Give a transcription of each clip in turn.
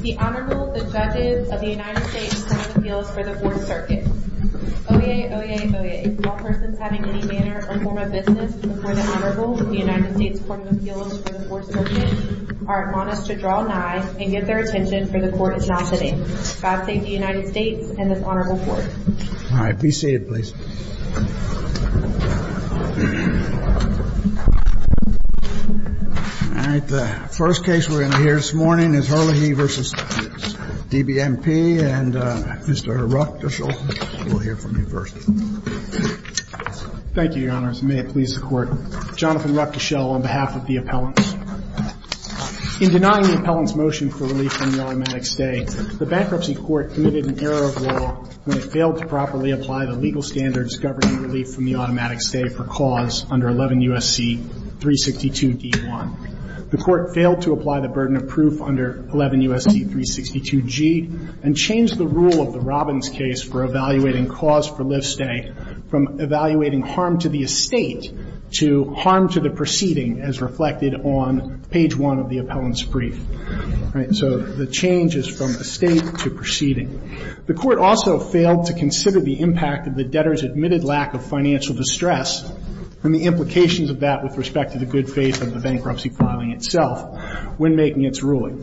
The Honorable, the Judges of the United States Court of Appeals for the Fourth Circuit. Oyez, oyez, oyez. All persons having any manner or form of business before the Honorable of the United States Court of Appeals for the Fourth Circuit are admonished to draw nigh and give their attention, for the Court is not sitting. God save the United States and this Honorable Court. All right, be seated, please. All right, the first case we're going to hear this morning is Herlihy v. DBMP. And Mr. Ruckdeschel, we'll hear from you first. Thank you, Your Honors, and may it please the Court. Jonathan Ruckdeschel on behalf of the appellants. In denying the appellant's motion for relief from the automatic stay, the bankruptcy court committed an error of law when it failed to properly apply the legal standards governing relief from the automatic stay for cause under 11 U.S.C. 362d1. The court failed to apply the burden of proof under 11 U.S.C. 362g and changed the rule of the Robbins case for evaluating cause for live stay from evaluating harm to the estate to harm to the proceeding as reflected on page 1 of the appellant's brief. All right, so the change is from estate to proceeding. The court also failed to consider the impact of the debtor's admitted lack of financial distress and the implications of that with respect to the good faith of the bankruptcy filing itself when making its ruling.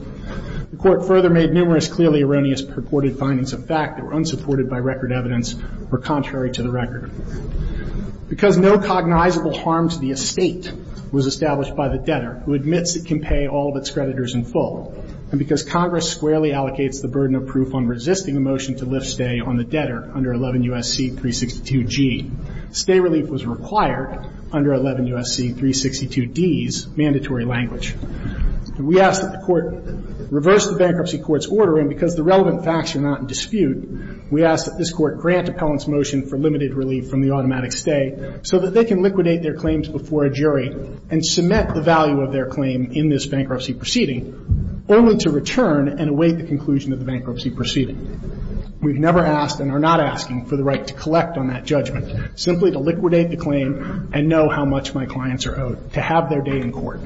The court further made numerous clearly erroneous purported findings of fact that Because no cognizable harm to the estate was established by the debtor who admits it can pay all of its creditors in full, and because Congress squarely allocates the burden of proof on resisting a motion to lift stay on the debtor under 11 U.S.C. 362g, stay relief was required under 11 U.S.C. 362d's mandatory language. We ask that the Court reverse the bankruptcy court's order, and because the relevant facts are not in dispute, we ask that this Court grant appellant's motion for limited stay so that they can liquidate their claims before a jury and submit the value of their claim in this bankruptcy proceeding only to return and await the conclusion of the bankruptcy proceeding. We've never asked and are not asking for the right to collect on that judgment, simply to liquidate the claim and know how much my clients are owed, to have their day in court.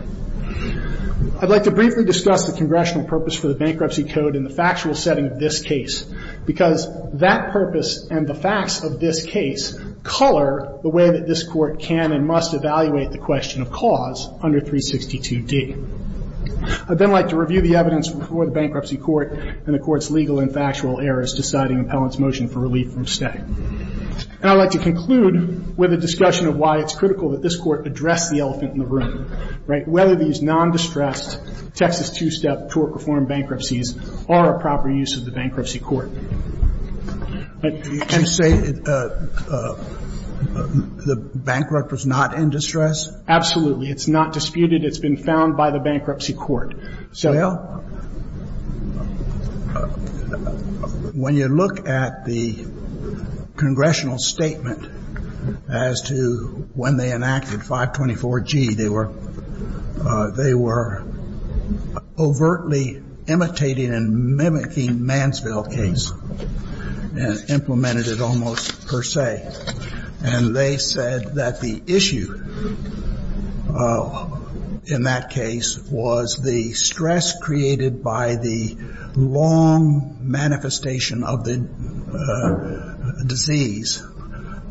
I'd like to briefly discuss the congressional purpose for the bankruptcy code in the court, the way that this Court can and must evaluate the question of cause under 362d. I'd then like to review the evidence before the bankruptcy court and the Court's legal and factual errors deciding appellant's motion for relief from stay. And I'd like to conclude with a discussion of why it's critical that this Court address the elephant in the room, right, whether these nondistressed Texas two-step tort reform bankruptcies are a proper use of the bankruptcy court. Do you say the bankrupt was not in distress? Absolutely. It's not disputed. It's been found by the bankruptcy court. Well, when you look at the congressional statement as to when they enacted 524G, they were overtly imitating and mimicking Mansfield case and implemented it almost per se. And they said that the issue in that case was the stress created by the long manifestation of the disease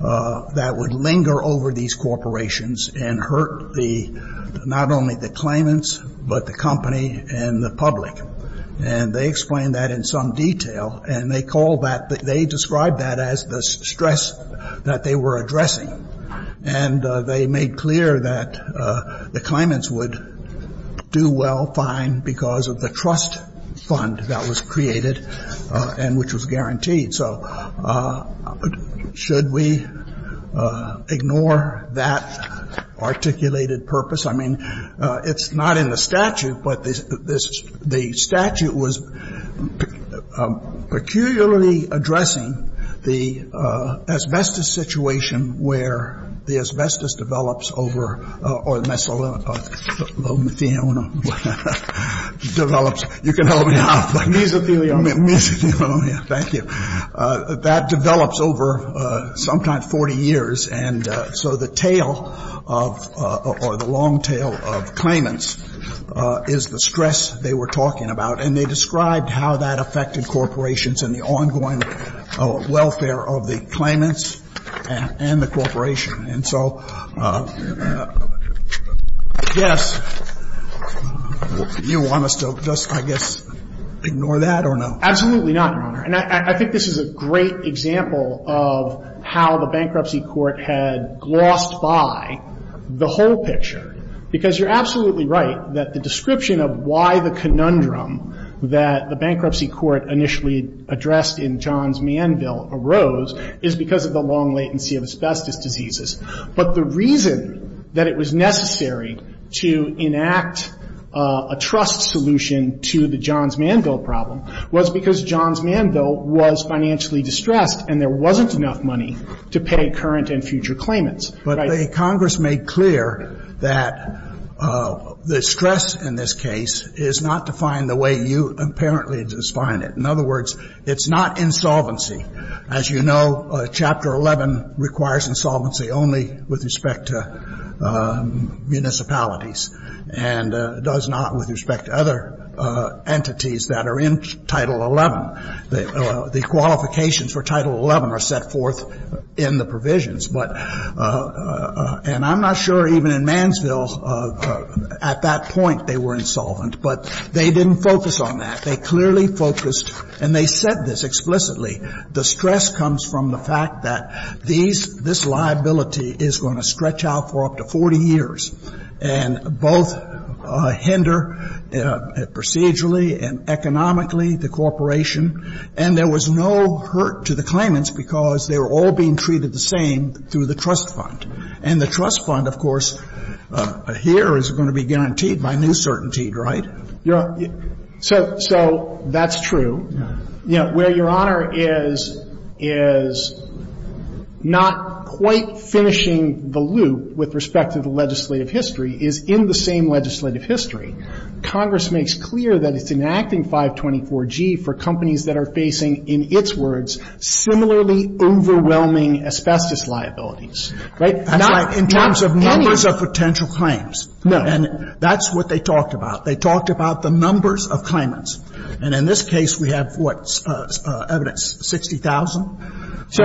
that would linger over these corporations and hurt them not only the claimants but the company and the public. And they explained that in some detail. And they called that they described that as the stress that they were addressing. And they made clear that the claimants would do well, fine, because of the trust fund that was created and which was guaranteed. So should we ignore that articulated purpose? I mean, it's not in the statute, but the statute was peculiarly addressing the asbestos situation where the asbestos develops over or mesothelone develops You can help me out. Mesothelone. Mesothelone. Thank you. That develops over sometimes 40 years. And so the tale of or the long tale of claimants is the stress they were talking about. And they described how that affected corporations and the ongoing welfare of the claimants and the corporation. And so I guess you want us to just, I guess, ignore that or no? Absolutely not, Your Honor. And I think this is a great example of how the bankruptcy court had glossed by the whole picture. Because you're absolutely right that the description of why the conundrum that the bankruptcy court initially addressed in John's Manville arose is because of the long latency of asbestos diseases. But the reason that it was necessary to enact a trust solution to the John's Manville issue was because John's Manville was financially distressed and there wasn't enough money to pay current and future claimants. But the Congress made clear that the stress in this case is not defined the way you apparently define it. In other words, it's not insolvency. As you know, Chapter 11 requires insolvency only with respect to municipalities and does not with respect to other entities that are in Title XI. The qualifications for Title XI are set forth in the provisions. And I'm not sure even in Mansville at that point they were insolvent. But they didn't focus on that. They clearly focused, and they said this explicitly, the stress comes from the fact that these, this liability is going to stretch out for up to 40 years and both hinder procedurally and economically the corporation. And there was no hurt to the claimants because they were all being treated the same through the trust fund. And the trust fund, of course, here is going to be guaranteed by new certainty, right? So that's true. You know, where Your Honor is not quite finishing the loop with respect to the legislative history is in the same legislative history. Congress makes clear that it's enacting 524G for companies that are facing, in its words, similarly overwhelming asbestos liabilities, right? Not any. That's right. In terms of numbers of potential claims. No. And that's what they talked about. They talked about the numbers of claimants. And in this case, we have, what, evidence, 60,000? So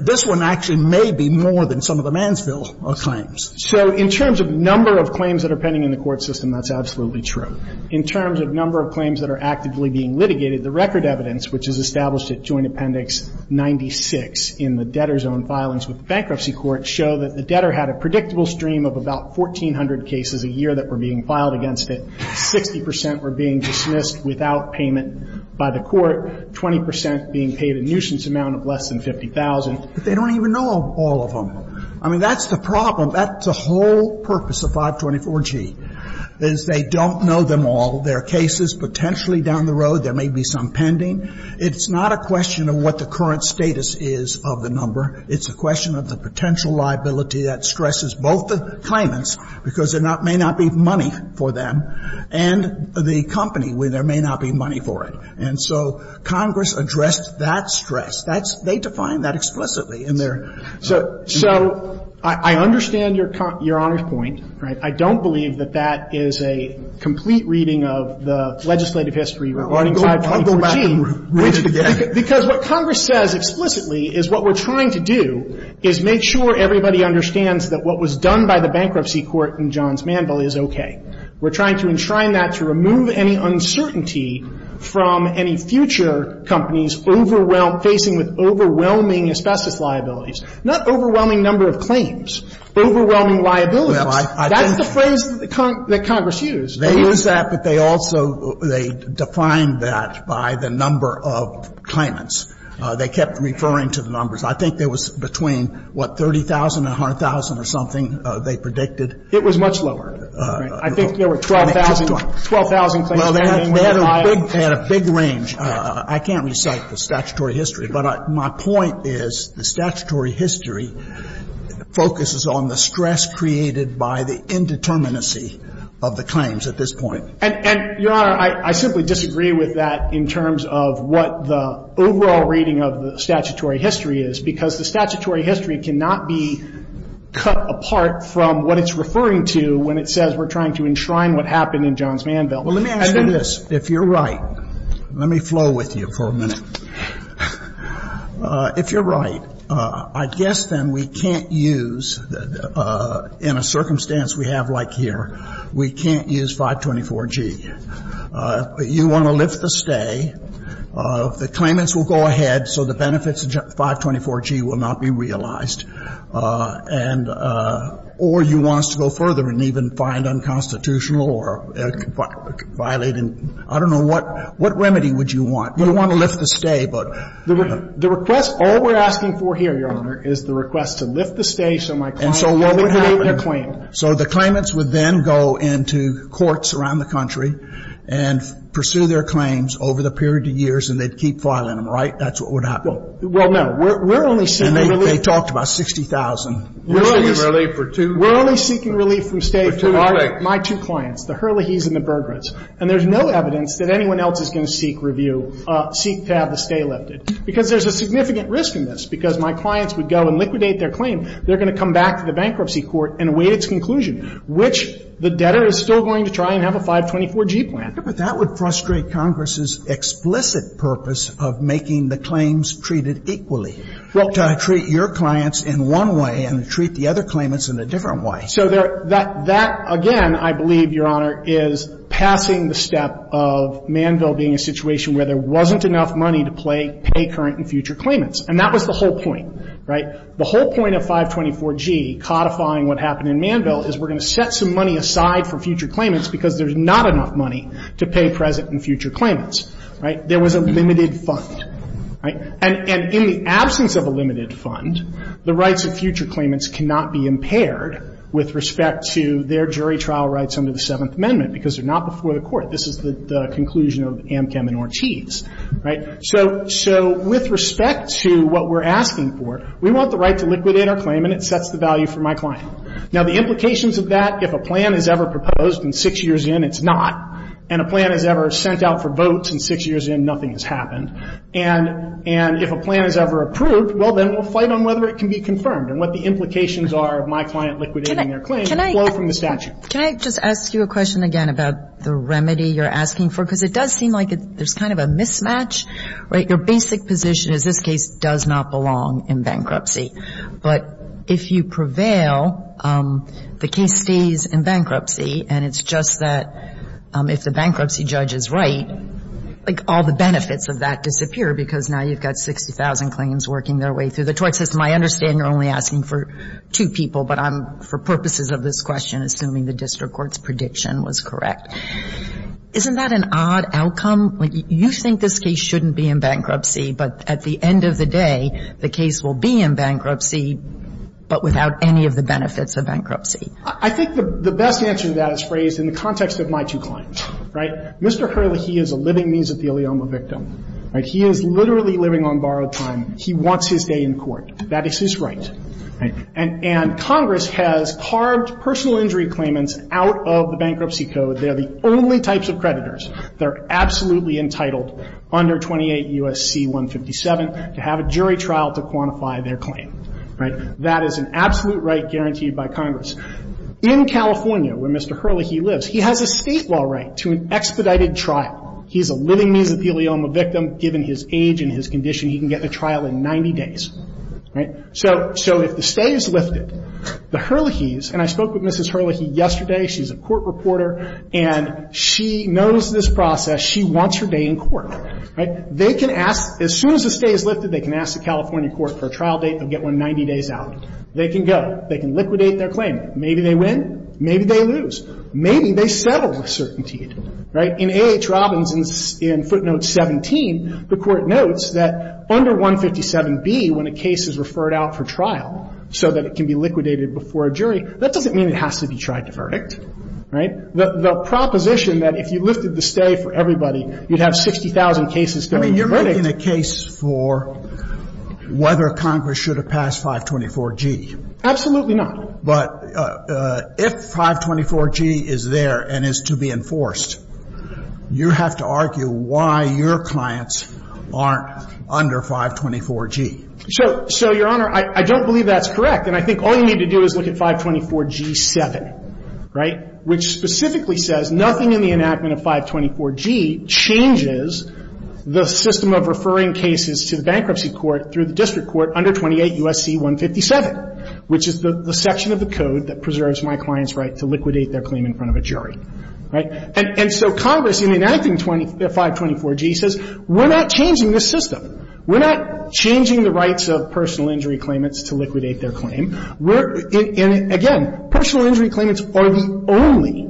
this one actually may be more than some of the Mansfield claims. So in terms of number of claims that are pending in the court system, that's absolutely true. In terms of number of claims that are actively being litigated, the record evidence, which is established at Joint Appendix 96 in the debtor's own filings with the bankruptcy court, show that the debtor had a predictable stream of about 1,400 cases a year that were being filed against it, 60 percent were being dismissed without payment by the court, 20 percent being paid a nuisance amount of less than 50,000. But they don't even know all of them. I mean, that's the problem. That's the whole purpose of 524G, is they don't know them all. There are cases potentially down the road. There may be some pending. It's not a question of what the current status is of the number. It's a question of the potential liability that stresses both the claimants, because there may not be money for them, and the company, where there may not be money for it. And so Congress addressed that stress. That's they define that explicitly in their. So I understand Your Honor's point, right? I don't believe that that is a complete reading of the legislative history regarding 524G. I'll go back and read it again. Because what Congress says explicitly is what we're trying to do is make sure everybody understands that what was done by the bankruptcy court in Johns Manville is okay. We're trying to enshrine that to remove any uncertainty from any future companies overwhelmed, facing with overwhelming asbestos liabilities. Not overwhelming number of claims. Overwhelming liabilities. That's the phrase that Congress used. They use that, but they also, they define that by the number of claimants. They kept referring to the numbers. I think there was between, what, 30,000 to 100,000 or something, they predicted. It was much lower. I think there were 12,000 claims. Well, they had a big range. I can't recite the statutory history. But my point is the statutory history focuses on the stress created by the indeterminacy of the claims at this point. And, Your Honor, I simply disagree with that in terms of what the overall reading of the statutory history is, because the statutory history cannot be cut apart from what it's referring to when it says we're trying to enshrine what happened in Johns Manville. Well, let me add to this. If you're right, let me flow with you for a minute. If you're right, I guess then we can't use, in a circumstance we have like here, we can't use 524G. You want to lift the stay. The claimants will go ahead, so the benefits of 524G will not be realized. And or you want us to go further and even find unconstitutional or violate and I don't know what, what remedy would you want? You want to lift the stay, but. The request, all we're asking for here, Your Honor, is the request to lift the stay so my client can complete their claim. So the claimants would then go into courts around the country and pursue their claims over the period of years and they'd keep filing them, right? That's what would happen. Well, no. We're only seeking relief. And they talked about 60,000. We're only seeking relief from stay for my two clients, the Hurleys and the Burghers. And there's no evidence that anyone else is going to seek review, seek to have the stay lifted, because there's a significant risk in this, because my clients would go and liquidate their claim. They're going to come back to the bankruptcy court and await its conclusion, which the debtor is still going to try and have a 524G plan. But that would frustrate Congress's explicit purpose of making the claims treated equally, to treat your clients in one way and to treat the other claimants in a different way. So that, again, I believe, Your Honor, is passing the step of Manville being a situation where there wasn't enough money to pay current and future claimants. And that was the whole point, right? The whole point of 524G codifying what happened in Manville is we're going to set some money aside for future claimants because there's not enough money to pay present and future claimants, right? There was a limited fund, right? And in the absence of a limited fund, the rights of future claimants cannot be impaired with respect to their jury trial rights under the Seventh Amendment, because they're not before the Court. This is the conclusion of Amchem and Ortiz, right? So with respect to what we're asking for, we want the right to liquidate our claim, and it sets the value for my client. Now, the implications of that, if a plan is ever proposed and six years in, it's not. And a plan is ever sent out for votes and six years in, nothing has happened. And if a plan is ever approved, well, then we'll fight on whether it can be confirmed and what the implications are of my client liquidating their claim flow from the statute. Can I just ask you a question again about the remedy you're asking for? Because it does seem like there's kind of a mismatch, right? Your basic position is this case does not belong in bankruptcy. But if you prevail, the case stays in bankruptcy, and it's just that if the bankruptcy judge is right, like, all the benefits of that disappear, because now you've got 60,000 claims working their way through the tort system. I understand you're only asking for two people, but I'm, for purposes of this question, assuming the district court's prediction was correct. Isn't that an odd outcome? You think this case shouldn't be in bankruptcy, but at the end of the day, the case will be in bankruptcy, but without any of the benefits of bankruptcy. I think the best answer to that is phrased in the context of my two clients. Right? Mr. Hurley, he is a living means of the ilioma victim. Right? He is literally living on borrowed time. He wants his day in court. That is his right. Right? And Congress has carved personal injury claimants out of the bankruptcy code. They're the only types of creditors that are absolutely entitled under 28 U.S.C. 157 to have a jury trial to quantify their claim. Right? That is an absolute right guaranteed by Congress. In California, where Mr. Hurley, he lives, he has a state law right to an expedited trial. He's a living means of the ilioma victim. Given his age and his condition, he can get the trial in 90 days. Right? So, so if the stay is lifted, the Hurleys, and I spoke with Mrs. Hurley yesterday. She's a court reporter, and she knows this process. She wants her day in court. Right? They can ask, as soon as the stay is lifted, they can ask the California court for a trial date. They'll get one 90 days out. They can go. They can liquidate their claim. Maybe they win. Maybe they lose. Maybe they settle with certainty. Right? In A.H. Robbins, in footnote 17, the court notes that under 157B, when a case is referred out for The proposition that if you lifted the stay for everybody, you'd have 60,000 cases going to the verdict. I mean, you're making a case for whether Congress should have passed 524G. Absolutely not. But if 524G is there and is to be enforced, you have to argue why your clients aren't under 524G. So, so, Your Honor, I don't believe that's correct. And I think all you need to do is look at 524G7. Right? Which specifically says nothing in the enactment of 524G changes the system of referring cases to the bankruptcy court through the district court under 28 U.S.C. 157, which is the section of the code that preserves my client's right to liquidate their claim in front of a jury. Right? And so Congress, in enacting 524G, says we're not changing this system. We're not changing the rights of personal injury claimants to liquidate their claim. And, again, personal injury claimants are the only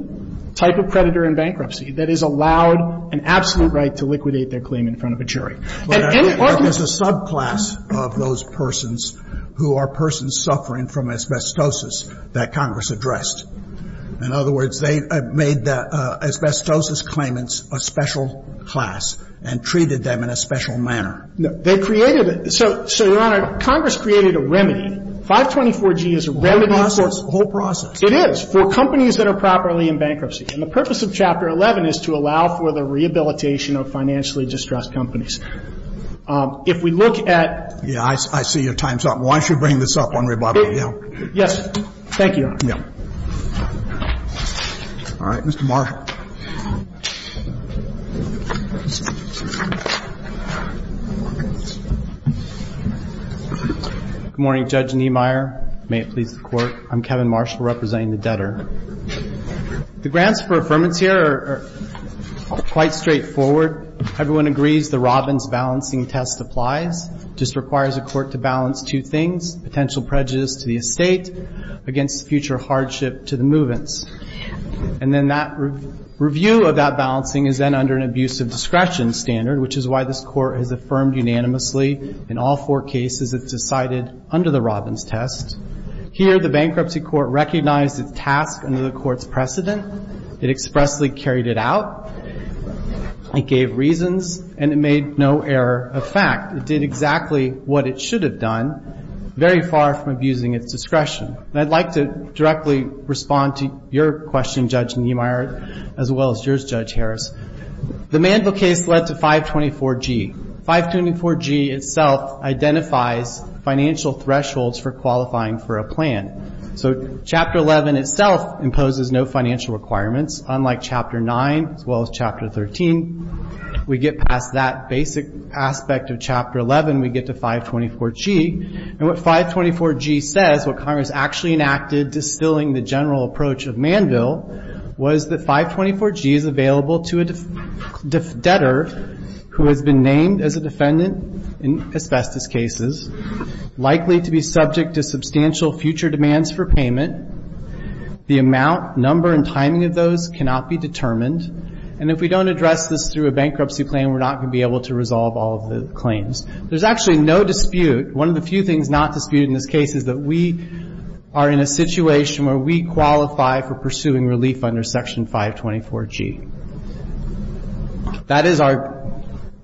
type of predator in bankruptcy that is allowed an absolute right to liquidate their claim in front of a jury. And any argument of the subclass of those persons who are persons suffering from asbestosis that Congress addressed. In other words, they made the asbestosis claimants a special class and treated them in a special manner. No. They created it. So, Your Honor, Congress created a remedy. 524G is a remedy for. The whole process. The whole process. It is, for companies that are properly in bankruptcy. And the purpose of Chapter 11 is to allow for the rehabilitation of financially distressed companies. If we look at. Yeah. I see your time's up. Why don't you bring this up on rebuttal. Yeah. Yes. Thank you, Your Honor. Yeah. All right. Mr. Marshall. Good morning, Judge Niemeyer. May it please the Court. I'm Kevin Marshall representing the debtor. The grants for affirmance here are quite straightforward. Everyone agrees the Robbins balancing test applies. It just requires the Court to balance two things. Potential prejudice to the estate against future hardship to the movants. And then that requires the Court to balance two things. Review of that balancing is then under an abuse of discretion standard, which is why this Court has affirmed unanimously in all four cases it's decided under the Robbins test. Here the bankruptcy Court recognized its task under the Court's precedent. It expressly carried it out. It gave reasons. And it made no error of fact. It did exactly what it should have done, very far from abusing its discretion. And I'd like to directly respond to your question, Judge Niemeyer, as well as yours, Judge Harris. The Mandel case led to 524G. 524G itself identifies financial thresholds for qualifying for a plan. So Chapter 11 itself imposes no financial requirements, unlike Chapter 9 as well as Chapter 13. We get past that basic aspect of Chapter 11, we get to 524G. And what 524G says, what Congress actually enacted, distilling the general approach of Mandel, was that 524G is available to a debtor who has been named as a defendant in asbestos cases, likely to be subject to substantial future demands for payment. The amount, number, and timing of those cannot be determined. And if we don't address this through a bankruptcy plan, we're not going to be able to resolve all of the claims. There's actually no dispute. One of the few things not disputed in this case is that we are in a situation where we qualify for pursuing relief under Section 524G. That is our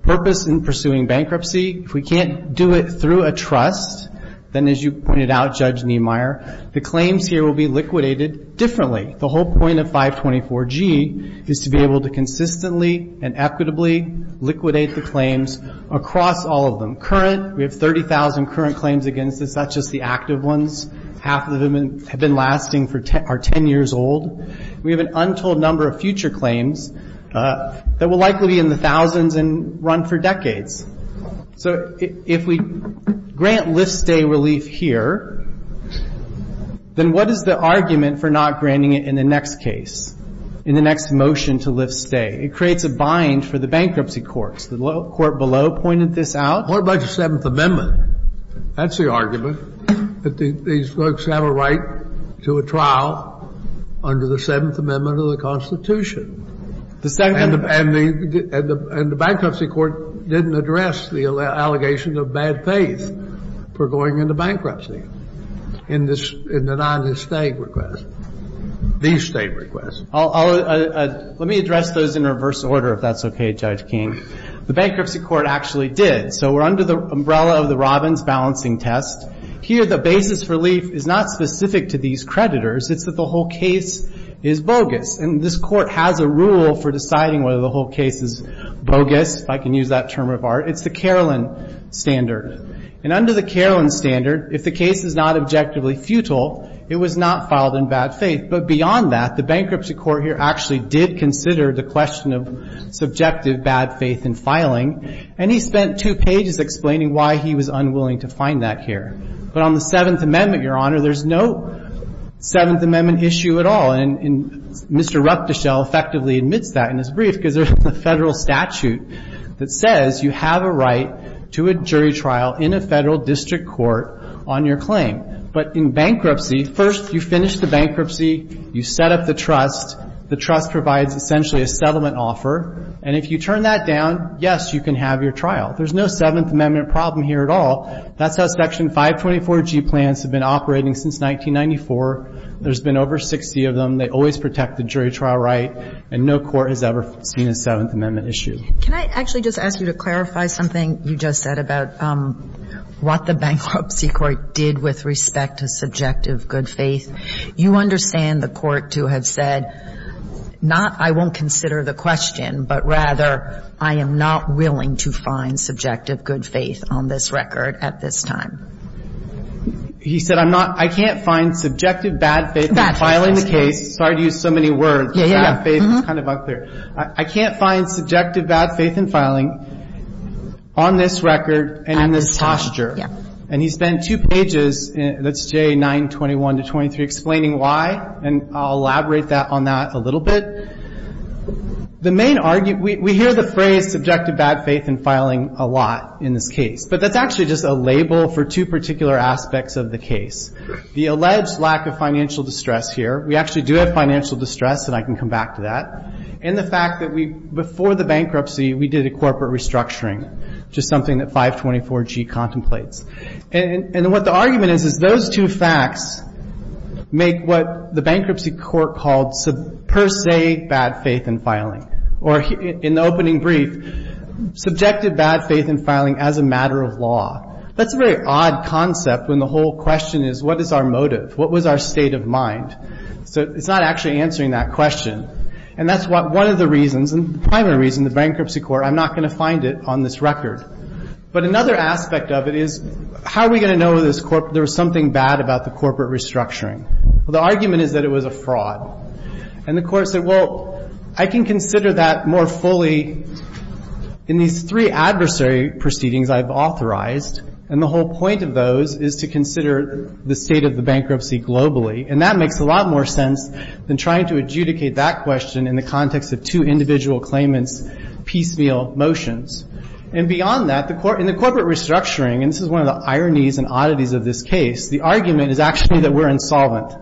purpose in pursuing bankruptcy. If we can't do it through a trust, then, as you pointed out, Judge Niemeyer, the claims here will be liquidated differently. The whole point of 524G is to be able to consistently and equitably liquidate the claims across all of them. Current, we have 30,000 current claims against this. That's just the active ones. Half of them have been lasting for 10 years old. We have an untold number of future claims that will likely be in the thousands and run for decades. So if we grant lift-stay relief here, then what is the argument for not granting it in the next case, in the next motion to lift-stay? It creates a bind for the bankruptcy courts. The court below pointed this out. What about the Seventh Amendment? That's the argument, that these folks have a right to a trial under the Seventh Amendment of the Constitution. And the bankruptcy court didn't address the allegation of bad faith for going into bankruptcy in the non-estate request, the estate request. Let me address those in reverse order, if that's okay, Judge King. The bankruptcy court actually did. So we're under the umbrella of the Robbins balancing test. Here, the basis for relief is not specific to these creditors. It's that the whole case is bogus. And this court has a rule for deciding whether the whole case is bogus, if I can use that term of art. It's the Caroline Standard. And under the Caroline Standard, if the case is not objectively futile, it was not filed in bad faith. But beyond that, the bankruptcy court here actually did consider the question of subjective bad faith in filing. And he spent two pages explaining why he was unwilling to find that here. But on the Seventh Amendment, Your Honor, there's no Seventh Amendment issue at all. And Mr. Rupteschel effectively admits that in his brief because there's a Federal statute that says you have a right to a jury trial in a Federal district court on your claim. But in bankruptcy, first you finish the bankruptcy, you set up the trust, the trust provides essentially a settlement offer, and if you turn that down, yes, you can have your trial. There's no Seventh Amendment problem here at all. That's how Section 524G plans have been operating since 1994. There's been over 60 of them. They always protect the jury trial right, and no court has ever seen a Seventh Amendment issue. Can I actually just ask you to clarify something you just said about what the bankruptcy court did with respect to subjective good faith? You understand the Court to have said not I won't consider the question, but rather I am not willing to find subjective good faith on this record at this time. He said I'm not – I can't find subjective bad faith in filing the case. Sorry to use so many words. Yeah, yeah. It's kind of unclear. I can't find subjective bad faith in filing on this record and in this posture. Yeah. And he spent two pages, that's J921 to 23, explaining why, and I'll elaborate on that a little bit. The main argument – we hear the phrase subjective bad faith in filing a lot in this case, but that's actually just a label for two particular aspects of the case. The alleged lack of financial distress here – we actually do have financial distress, and I can come back to that – and the fact that we, before the bankruptcy, we did a corporate restructuring, which is something that 524G contemplates. And what the argument is is those two facts make what the bankruptcy court called per se bad faith in filing, or in the opening brief, subjective bad faith in filing as a matter of law. That's a very odd concept when the whole question is what is our motive? What was our state of mind? So it's not actually answering that question. And that's one of the reasons, and the primary reason the bankruptcy court – I'm not going to find it on this record. But another aspect of it is how are we going to know there was something bad about the corporate restructuring? Well, the argument is that it was a fraud. And the court said, well, I can consider that more fully in these three adversary proceedings I've authorized, and the whole point of those is to consider the state of the bankruptcy globally. And that makes a lot more sense than trying to adjudicate that question in the context of two individual claimants' piecemeal motions. And beyond that, in the corporate restructuring – and this is one of the ironies and oddities of this case – the argument is actually that we're insolvent.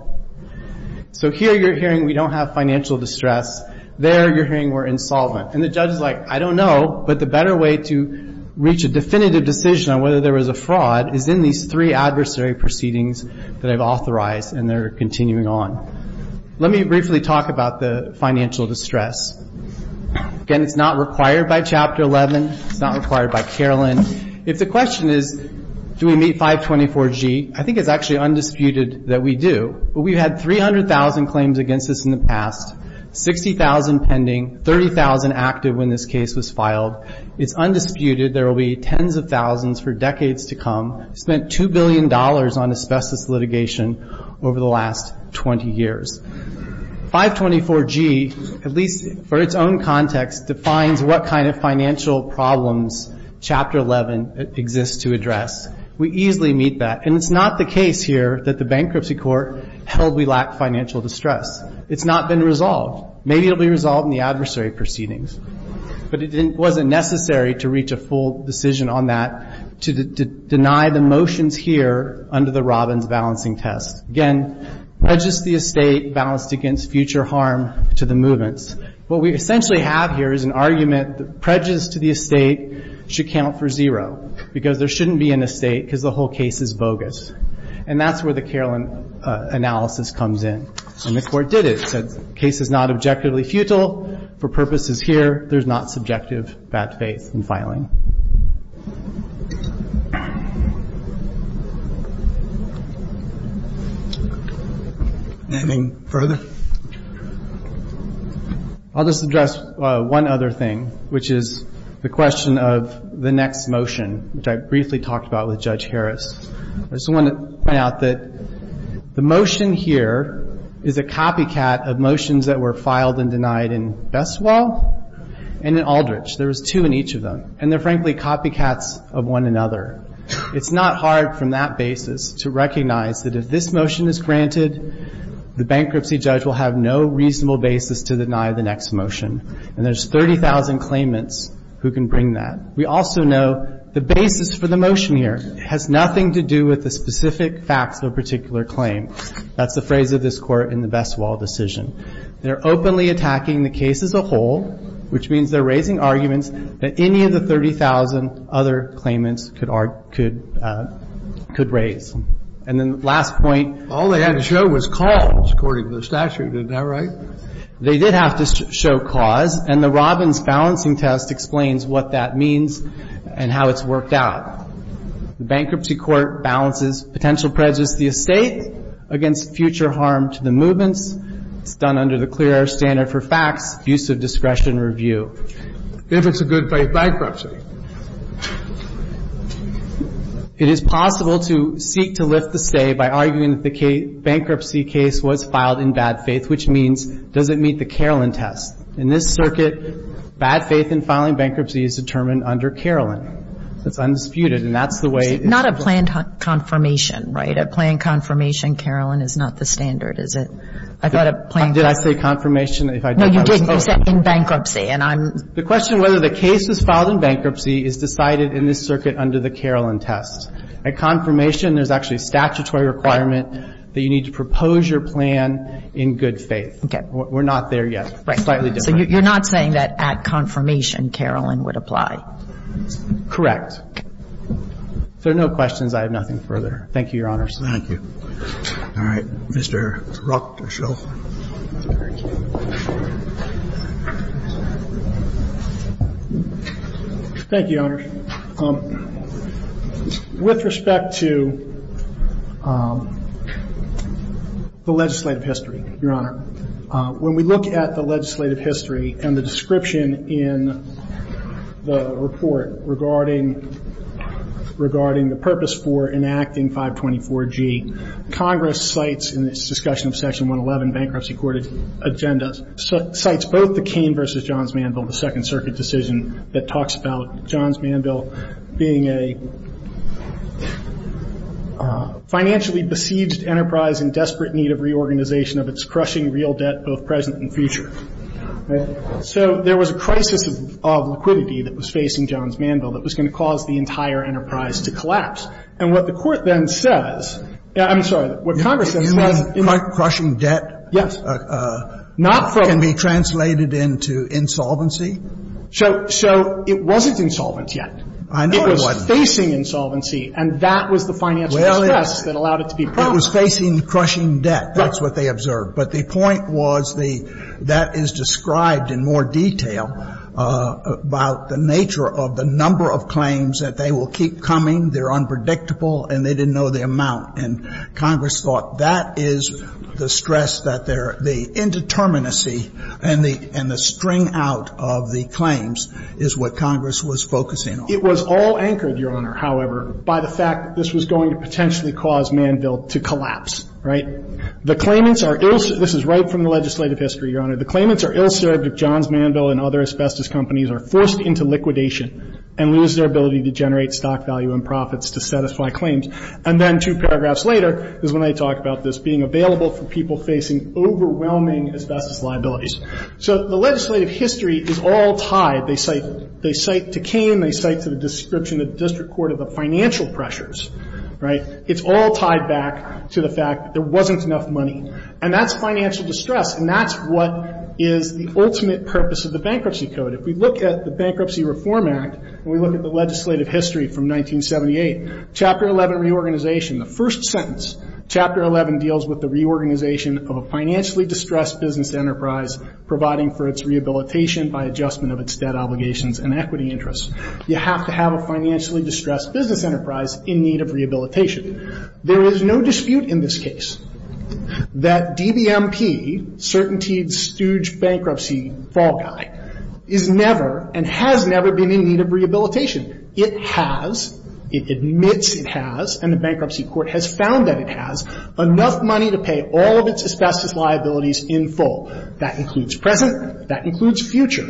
So here you're hearing we don't have financial distress. There you're hearing we're insolvent. And the judge is like, I don't know, but the better way to reach a definitive decision on whether there was a fraud is in these three adversary proceedings that I've authorized, and they're continuing on. Let me briefly talk about the financial distress. Again, it's not required by Chapter 11. It's not required by Carolyn. If the question is do we meet 524G, I think it's actually undisputed that we do. But we've had 300,000 claims against us in the past, 60,000 pending, 30,000 active when this case was filed. It's undisputed there will be tens of thousands for decades to come. Spent $2 billion on asbestos litigation over the last 20 years. 524G, at least for its own context, defines what kind of financial problems Chapter 11 exists to address. We easily meet that. And it's not the case here that the bankruptcy court held we lacked financial distress. It's not been resolved. Maybe it will be resolved in the adversary proceedings. But it wasn't necessary to reach a full decision on that to deny the motions here under the Robbins balancing test. Again, prejudice to the estate balanced against future harm to the movements. What we essentially have here is an argument that prejudice to the estate should count for zero because there shouldn't be an estate because the whole case is bogus. And that's where the Carolyn analysis comes in. And the court did it. The case is not objectively futile. For purposes here, there's not subjective bad faith in filing. Anything further? I'll just address one other thing, which is the question of the next motion, which I briefly talked about with Judge Harris. I just want to point out that the motion here is a copycat of motions that were filed and denied in Bessewell and in Aldrich. There was two in each of them. And they're, frankly, copycats of one another. It's not hard from that basis to recognize that if this motion is granted, the bankruptcy judge will have no reasonable basis to deny the next motion. And there's 30,000 claimants who can bring that. We also know the basis for the motion here has nothing to do with the specific facts of a particular claim. That's the phrase of this Court in the Bessewell decision. They're openly attacking the case as a whole, which means they're raising arguments that any of the 30,000 other claimants could raise. And then the last point. All they had to show was cause, according to the statute. Is that right? They did have to show cause. And the Robbins balancing test explains what that means and how it's worked out. The bankruptcy court balances potential prejudice to the estate against future harm to the movements. It's done under the clear air standard for facts, use of discretion review. If it's a good-faith bankruptcy. It is possible to seek to lift the stay by arguing that the bankruptcy case was filed in bad faith, which means does it meet the Carolyn test? In this circuit, bad faith in filing bankruptcy is determined under Carolyn. It's undisputed. And that's the way. It's not a planned confirmation, right? A planned confirmation, Carolyn, is not the standard, is it? I thought a planned. Did I say confirmation? No, you didn't. You said in bankruptcy. And I'm. The question whether the case was filed in bankruptcy is decided in this circuit under the Carolyn test. A confirmation, there's actually a statutory requirement that you need to propose your plan in good faith. Okay. We're not there yet. Slightly different. So you're not saying that at confirmation, Carolyn would apply? Correct. If there are no questions, I have nothing further. Thank you, Your Honors. Thank you. All right. Mr. Ruck. Thank you, Your Honors. With respect to the legislative history, Your Honor, when we look at the legislative history and the description in the report regarding the purpose for enacting 524G, Congress cites in its discussion of Section 111 bankruptcy court agendas, cites both the Cain v. Johns Manville, the Second Circuit decision that talks about Johns Manville being a financially besieged enterprise in desperate need of reorganization of its crushing real debt, both present and future. So there was a crisis of liquidity that was facing Johns Manville that was going to cause the entire enterprise to collapse. And what the Court then says, I'm sorry, what Congress then says. You mean crushing debt? Yes. Can be translated into insolvency? So it wasn't insolvent yet. I know it wasn't. It was facing insolvency, and that was the financial distress that allowed it to be promised. Well, it was facing crushing debt. That's what they observed. But the point was the that is described in more detail about the nature of the number of claims that they will keep coming, they're unpredictable, and they didn't know the amount. And Congress thought that is the stress that they're the indeterminacy and the string out of the claims is what Congress was focusing on. It was all anchored, Your Honor, however, by the fact that this was going to potentially cause Manville to collapse, right? The claimants are ill- this is right from the legislative history, Your Honor. The claimants are ill-served if Johns Manville and other asbestos companies are forced into liquidation and lose their ability to generate stock value and profits to satisfy claims. And then two paragraphs later is when I talk about this being available for people facing overwhelming asbestos liabilities. So the legislative history is all tied. They cite to Cain, they cite to the description of the district court of the financial pressures, right? It's all tied back to the fact that there wasn't enough money. And that's financial distress, and that's what is the ultimate purpose of the Bankruptcy Code. If we look at the Bankruptcy Reform Act and we look at the legislative history from 1978, Chapter 11 reorganization, the first sentence, Chapter 11 deals with the reorganization of a financially distressed business enterprise providing for its rehabilitation by adjustment of its debt obligations and equity interests. You have to have a financially distressed business enterprise in need of There is no dispute in this case that DBMP, Certainty Stooge Bankruptcy Fall Guy, is never and has never been in need of rehabilitation. It has, it admits it has, and the Bankruptcy Court has found that it has, enough money to pay all of its asbestos liabilities in full. That includes present, that includes future.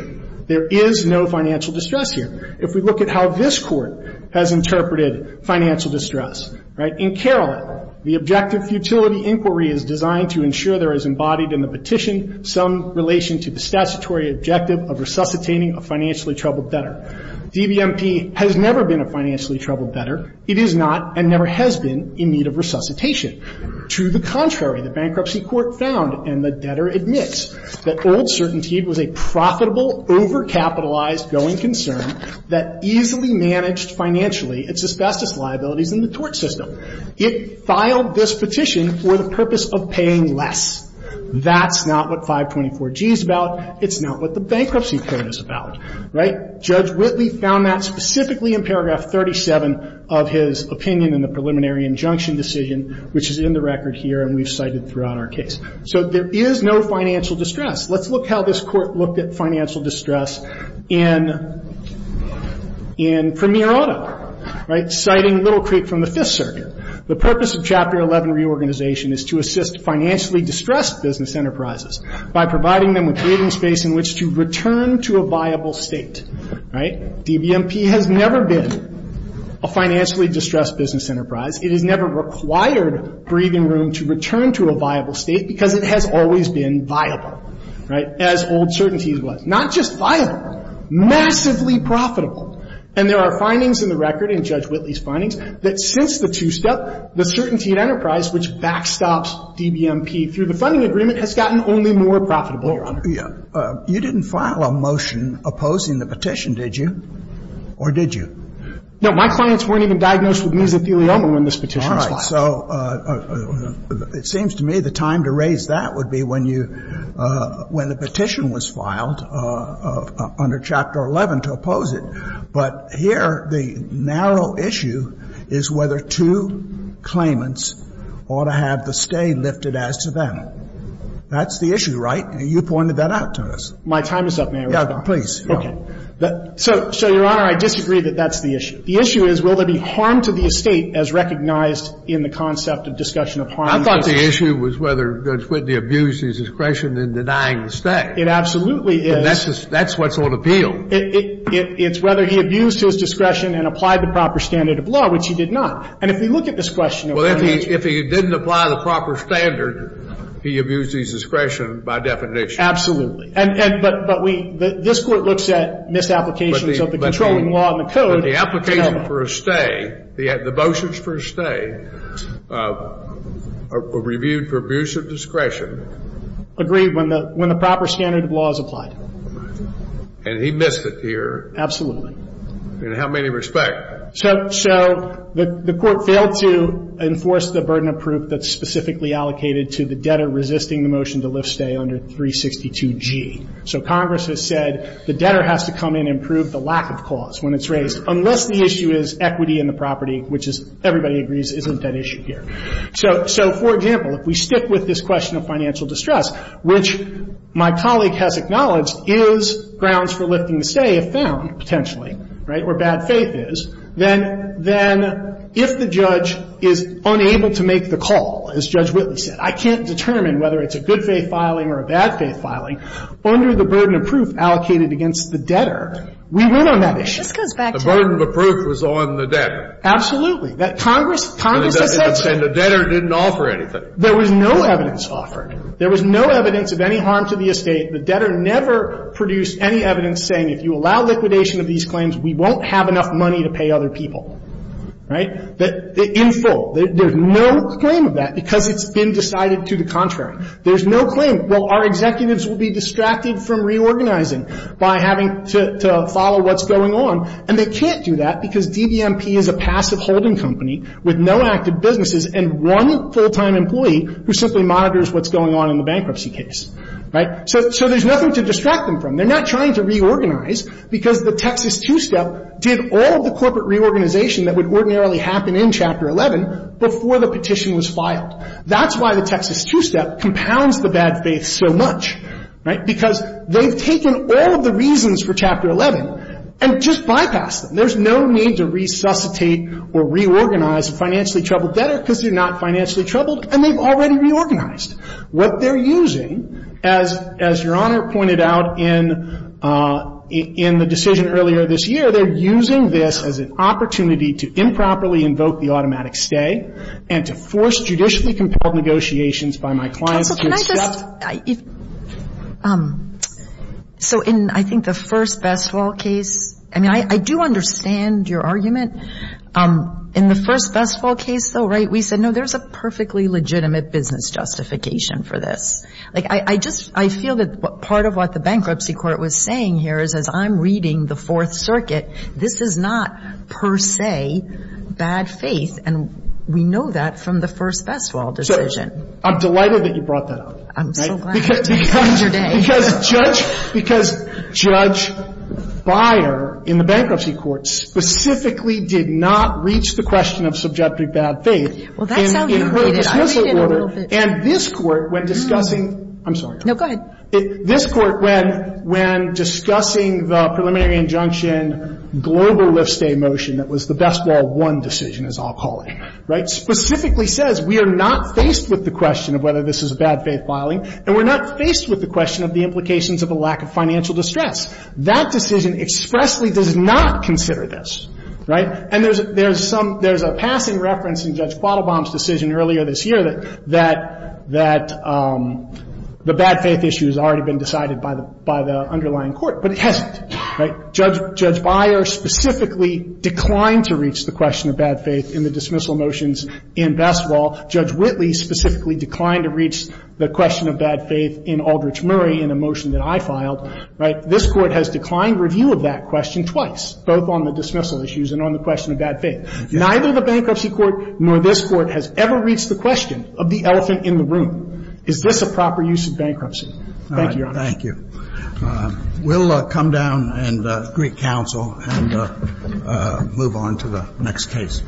There is no financial distress here. If we look at how this Court has interpreted financial distress, right? In Carolin, the objective futility inquiry is designed to ensure there is embodied in the petition some relation to the statutory objective of resuscitating a financially troubled debtor. DBMP has never been a financially troubled debtor. It is not and never has been in need of resuscitation. To the contrary, the Bankruptcy Court found and the debtor admits that old Certainty was a profitable overcapitalized going concern that easily managed financially its asbestos liabilities in the tort system. It filed this petition for the purpose of paying less. That's not what 524G is about. It's not what the Bankruptcy Court is about, right? Judge Whitley found that specifically in paragraph 37 of his opinion in the preliminary injunction decision, which is in the record here and we've cited throughout our case. So there is no financial distress. Let's look how this Court looked at financial distress in Premier Auto, right? Citing Little Creek from the Fifth Circuit. The purpose of Chapter 11 reorganization is to assist financially distressed business enterprises by providing them with waiting space in which to return to a viable state, right? DBMP has never been a financially distressed business enterprise. It has never required breathing room to return to a viable state because it has always been viable, right, as old Certainty was. Not just viable, massively profitable. And there are findings in the record in Judge Whitley's findings that since the two-step, the Certainty Enterprise, which backstops DBMP through the funding agreement, has gotten only more profitable, Your Honor. You didn't file a motion opposing the petition, did you? Or did you? No. My clients weren't even diagnosed with mesothelioma when this petition was filed. All right. So it seems to me the time to raise that would be when you, when the petition was filed under Chapter 11 to oppose it. But here the narrow issue is whether two claimants ought to have the stay lifted as to them. That's the issue, right? You pointed that out to us. My time is up. May I respond? Please. Okay. So, Your Honor, I disagree that that's the issue. The issue is, will there be harm to the estate as recognized in the concept of discussion of harm to the estate? I thought the issue was whether Judge Whitley abused his discretion in denying the stay. It absolutely is. And that's what's on appeal. It's whether he abused his discretion and applied the proper standard of law, which he did not. And if we look at this question of whether the estate was lifted. He abused his discretion by definition. And but we, this Court looks at misapplications of the controlling law and the code. But the application for a stay, the motions for a stay are reviewed for abuse of discretion. Agreed, when the proper standard of law is applied. And he missed it here. Absolutely. In how many respect? So the Court failed to enforce the burden of proof that's specifically allocated to the debtor resisting the motion to lift stay under 362G. So Congress has said the debtor has to come in and prove the lack of cause when it's raised. Unless the issue is equity in the property, which is, everybody agrees, isn't that issue here. So for example, if we stick with this question of financial distress, which my colleague has acknowledged is grounds for lifting the stay if found, potentially, right, where bad faith is. Then, then, if the judge is unable to make the call, as Judge Whitley said, I can't determine whether it's a good faith filing or a bad faith filing. Under the burden of proof allocated against the debtor, we went on that issue. This goes back to. The burden of proof was on the debtor. Absolutely. That Congress, Congress has said. And the debtor didn't offer anything. There was no evidence offered. There was no evidence of any harm to the estate. The debtor never produced any evidence saying if you allow liquidation of these claims, we won't have enough money to pay other people. Right? In full. There's no claim of that because it's been decided to the contrary. There's no claim. Well, our executives will be distracted from reorganizing by having to follow what's going on. And they can't do that because DVMP is a passive holding company with no active businesses and one full-time employee who simply monitors what's going on in the bankruptcy case. Right? So, so there's nothing to distract them from. They're not trying to reorganize because the Texas Two-Step did all of the corporate reorganization that would ordinarily happen in Chapter 11 before the petition was filed. That's why the Texas Two-Step compounds the bad faith so much. Right? Because they've taken all of the reasons for Chapter 11 and just bypassed them. There's no need to resuscitate or reorganize a financially troubled debtor because they're not financially troubled and they've already reorganized. What they're using, as, as Your Honor pointed out in, in the decision earlier this year, they're using this as an opportunity to improperly invoke the automatic stay and to force judicially compelled negotiations by my clients to accept. Counsel, can I just, if, so in, I think the first Bestowal case, I mean, I, I do understand your argument. In the first Bestowal case, though, right, we said, no, there's a perfectly legitimate business justification for this. Like, I, I just, I feel that part of what the bankruptcy court was saying here is, as I'm reading the Fourth Circuit, this is not per se bad faith, and we know that from the first Bestowal decision. So, I'm delighted that you brought that up. I'm so glad. Because, because Judge, because Judge Beyer in the bankruptcy court specifically did not reach the question of subjective bad faith. Well, that sounds related. I read it a little bit. And this Court, when discussing, I'm sorry. No, go ahead. This Court, when, when discussing the preliminary injunction global lift stay motion that was the Bestowal I decision, as I'll call it, right, specifically says we are not faced with the question of whether this is a bad faith filing, and we're not faced with the question of the implications of a lack of financial distress. That decision expressly does not consider this, right? And there's, there's some, there's a passing reference in Judge Quattlebaum's decision earlier this year that, that, that the bad faith issue has already been decided by the, by the underlying court. But it hasn't, right? Judge, Judge Beyer specifically declined to reach the question of bad faith in the dismissal motions in Bestowal. Judge Whitley specifically declined to reach the question of bad faith in Aldrich Murray in a motion that I filed, right? This Court has declined review of that question twice, both on the dismissal issues and on the question of bad faith. Neither the Bankruptcy Court nor this Court has ever reached the question of the elephant in the room. Is this a proper use of bankruptcy? Thank you, Your Honor. Thank you. We'll come down and greet counsel and move on to the next case.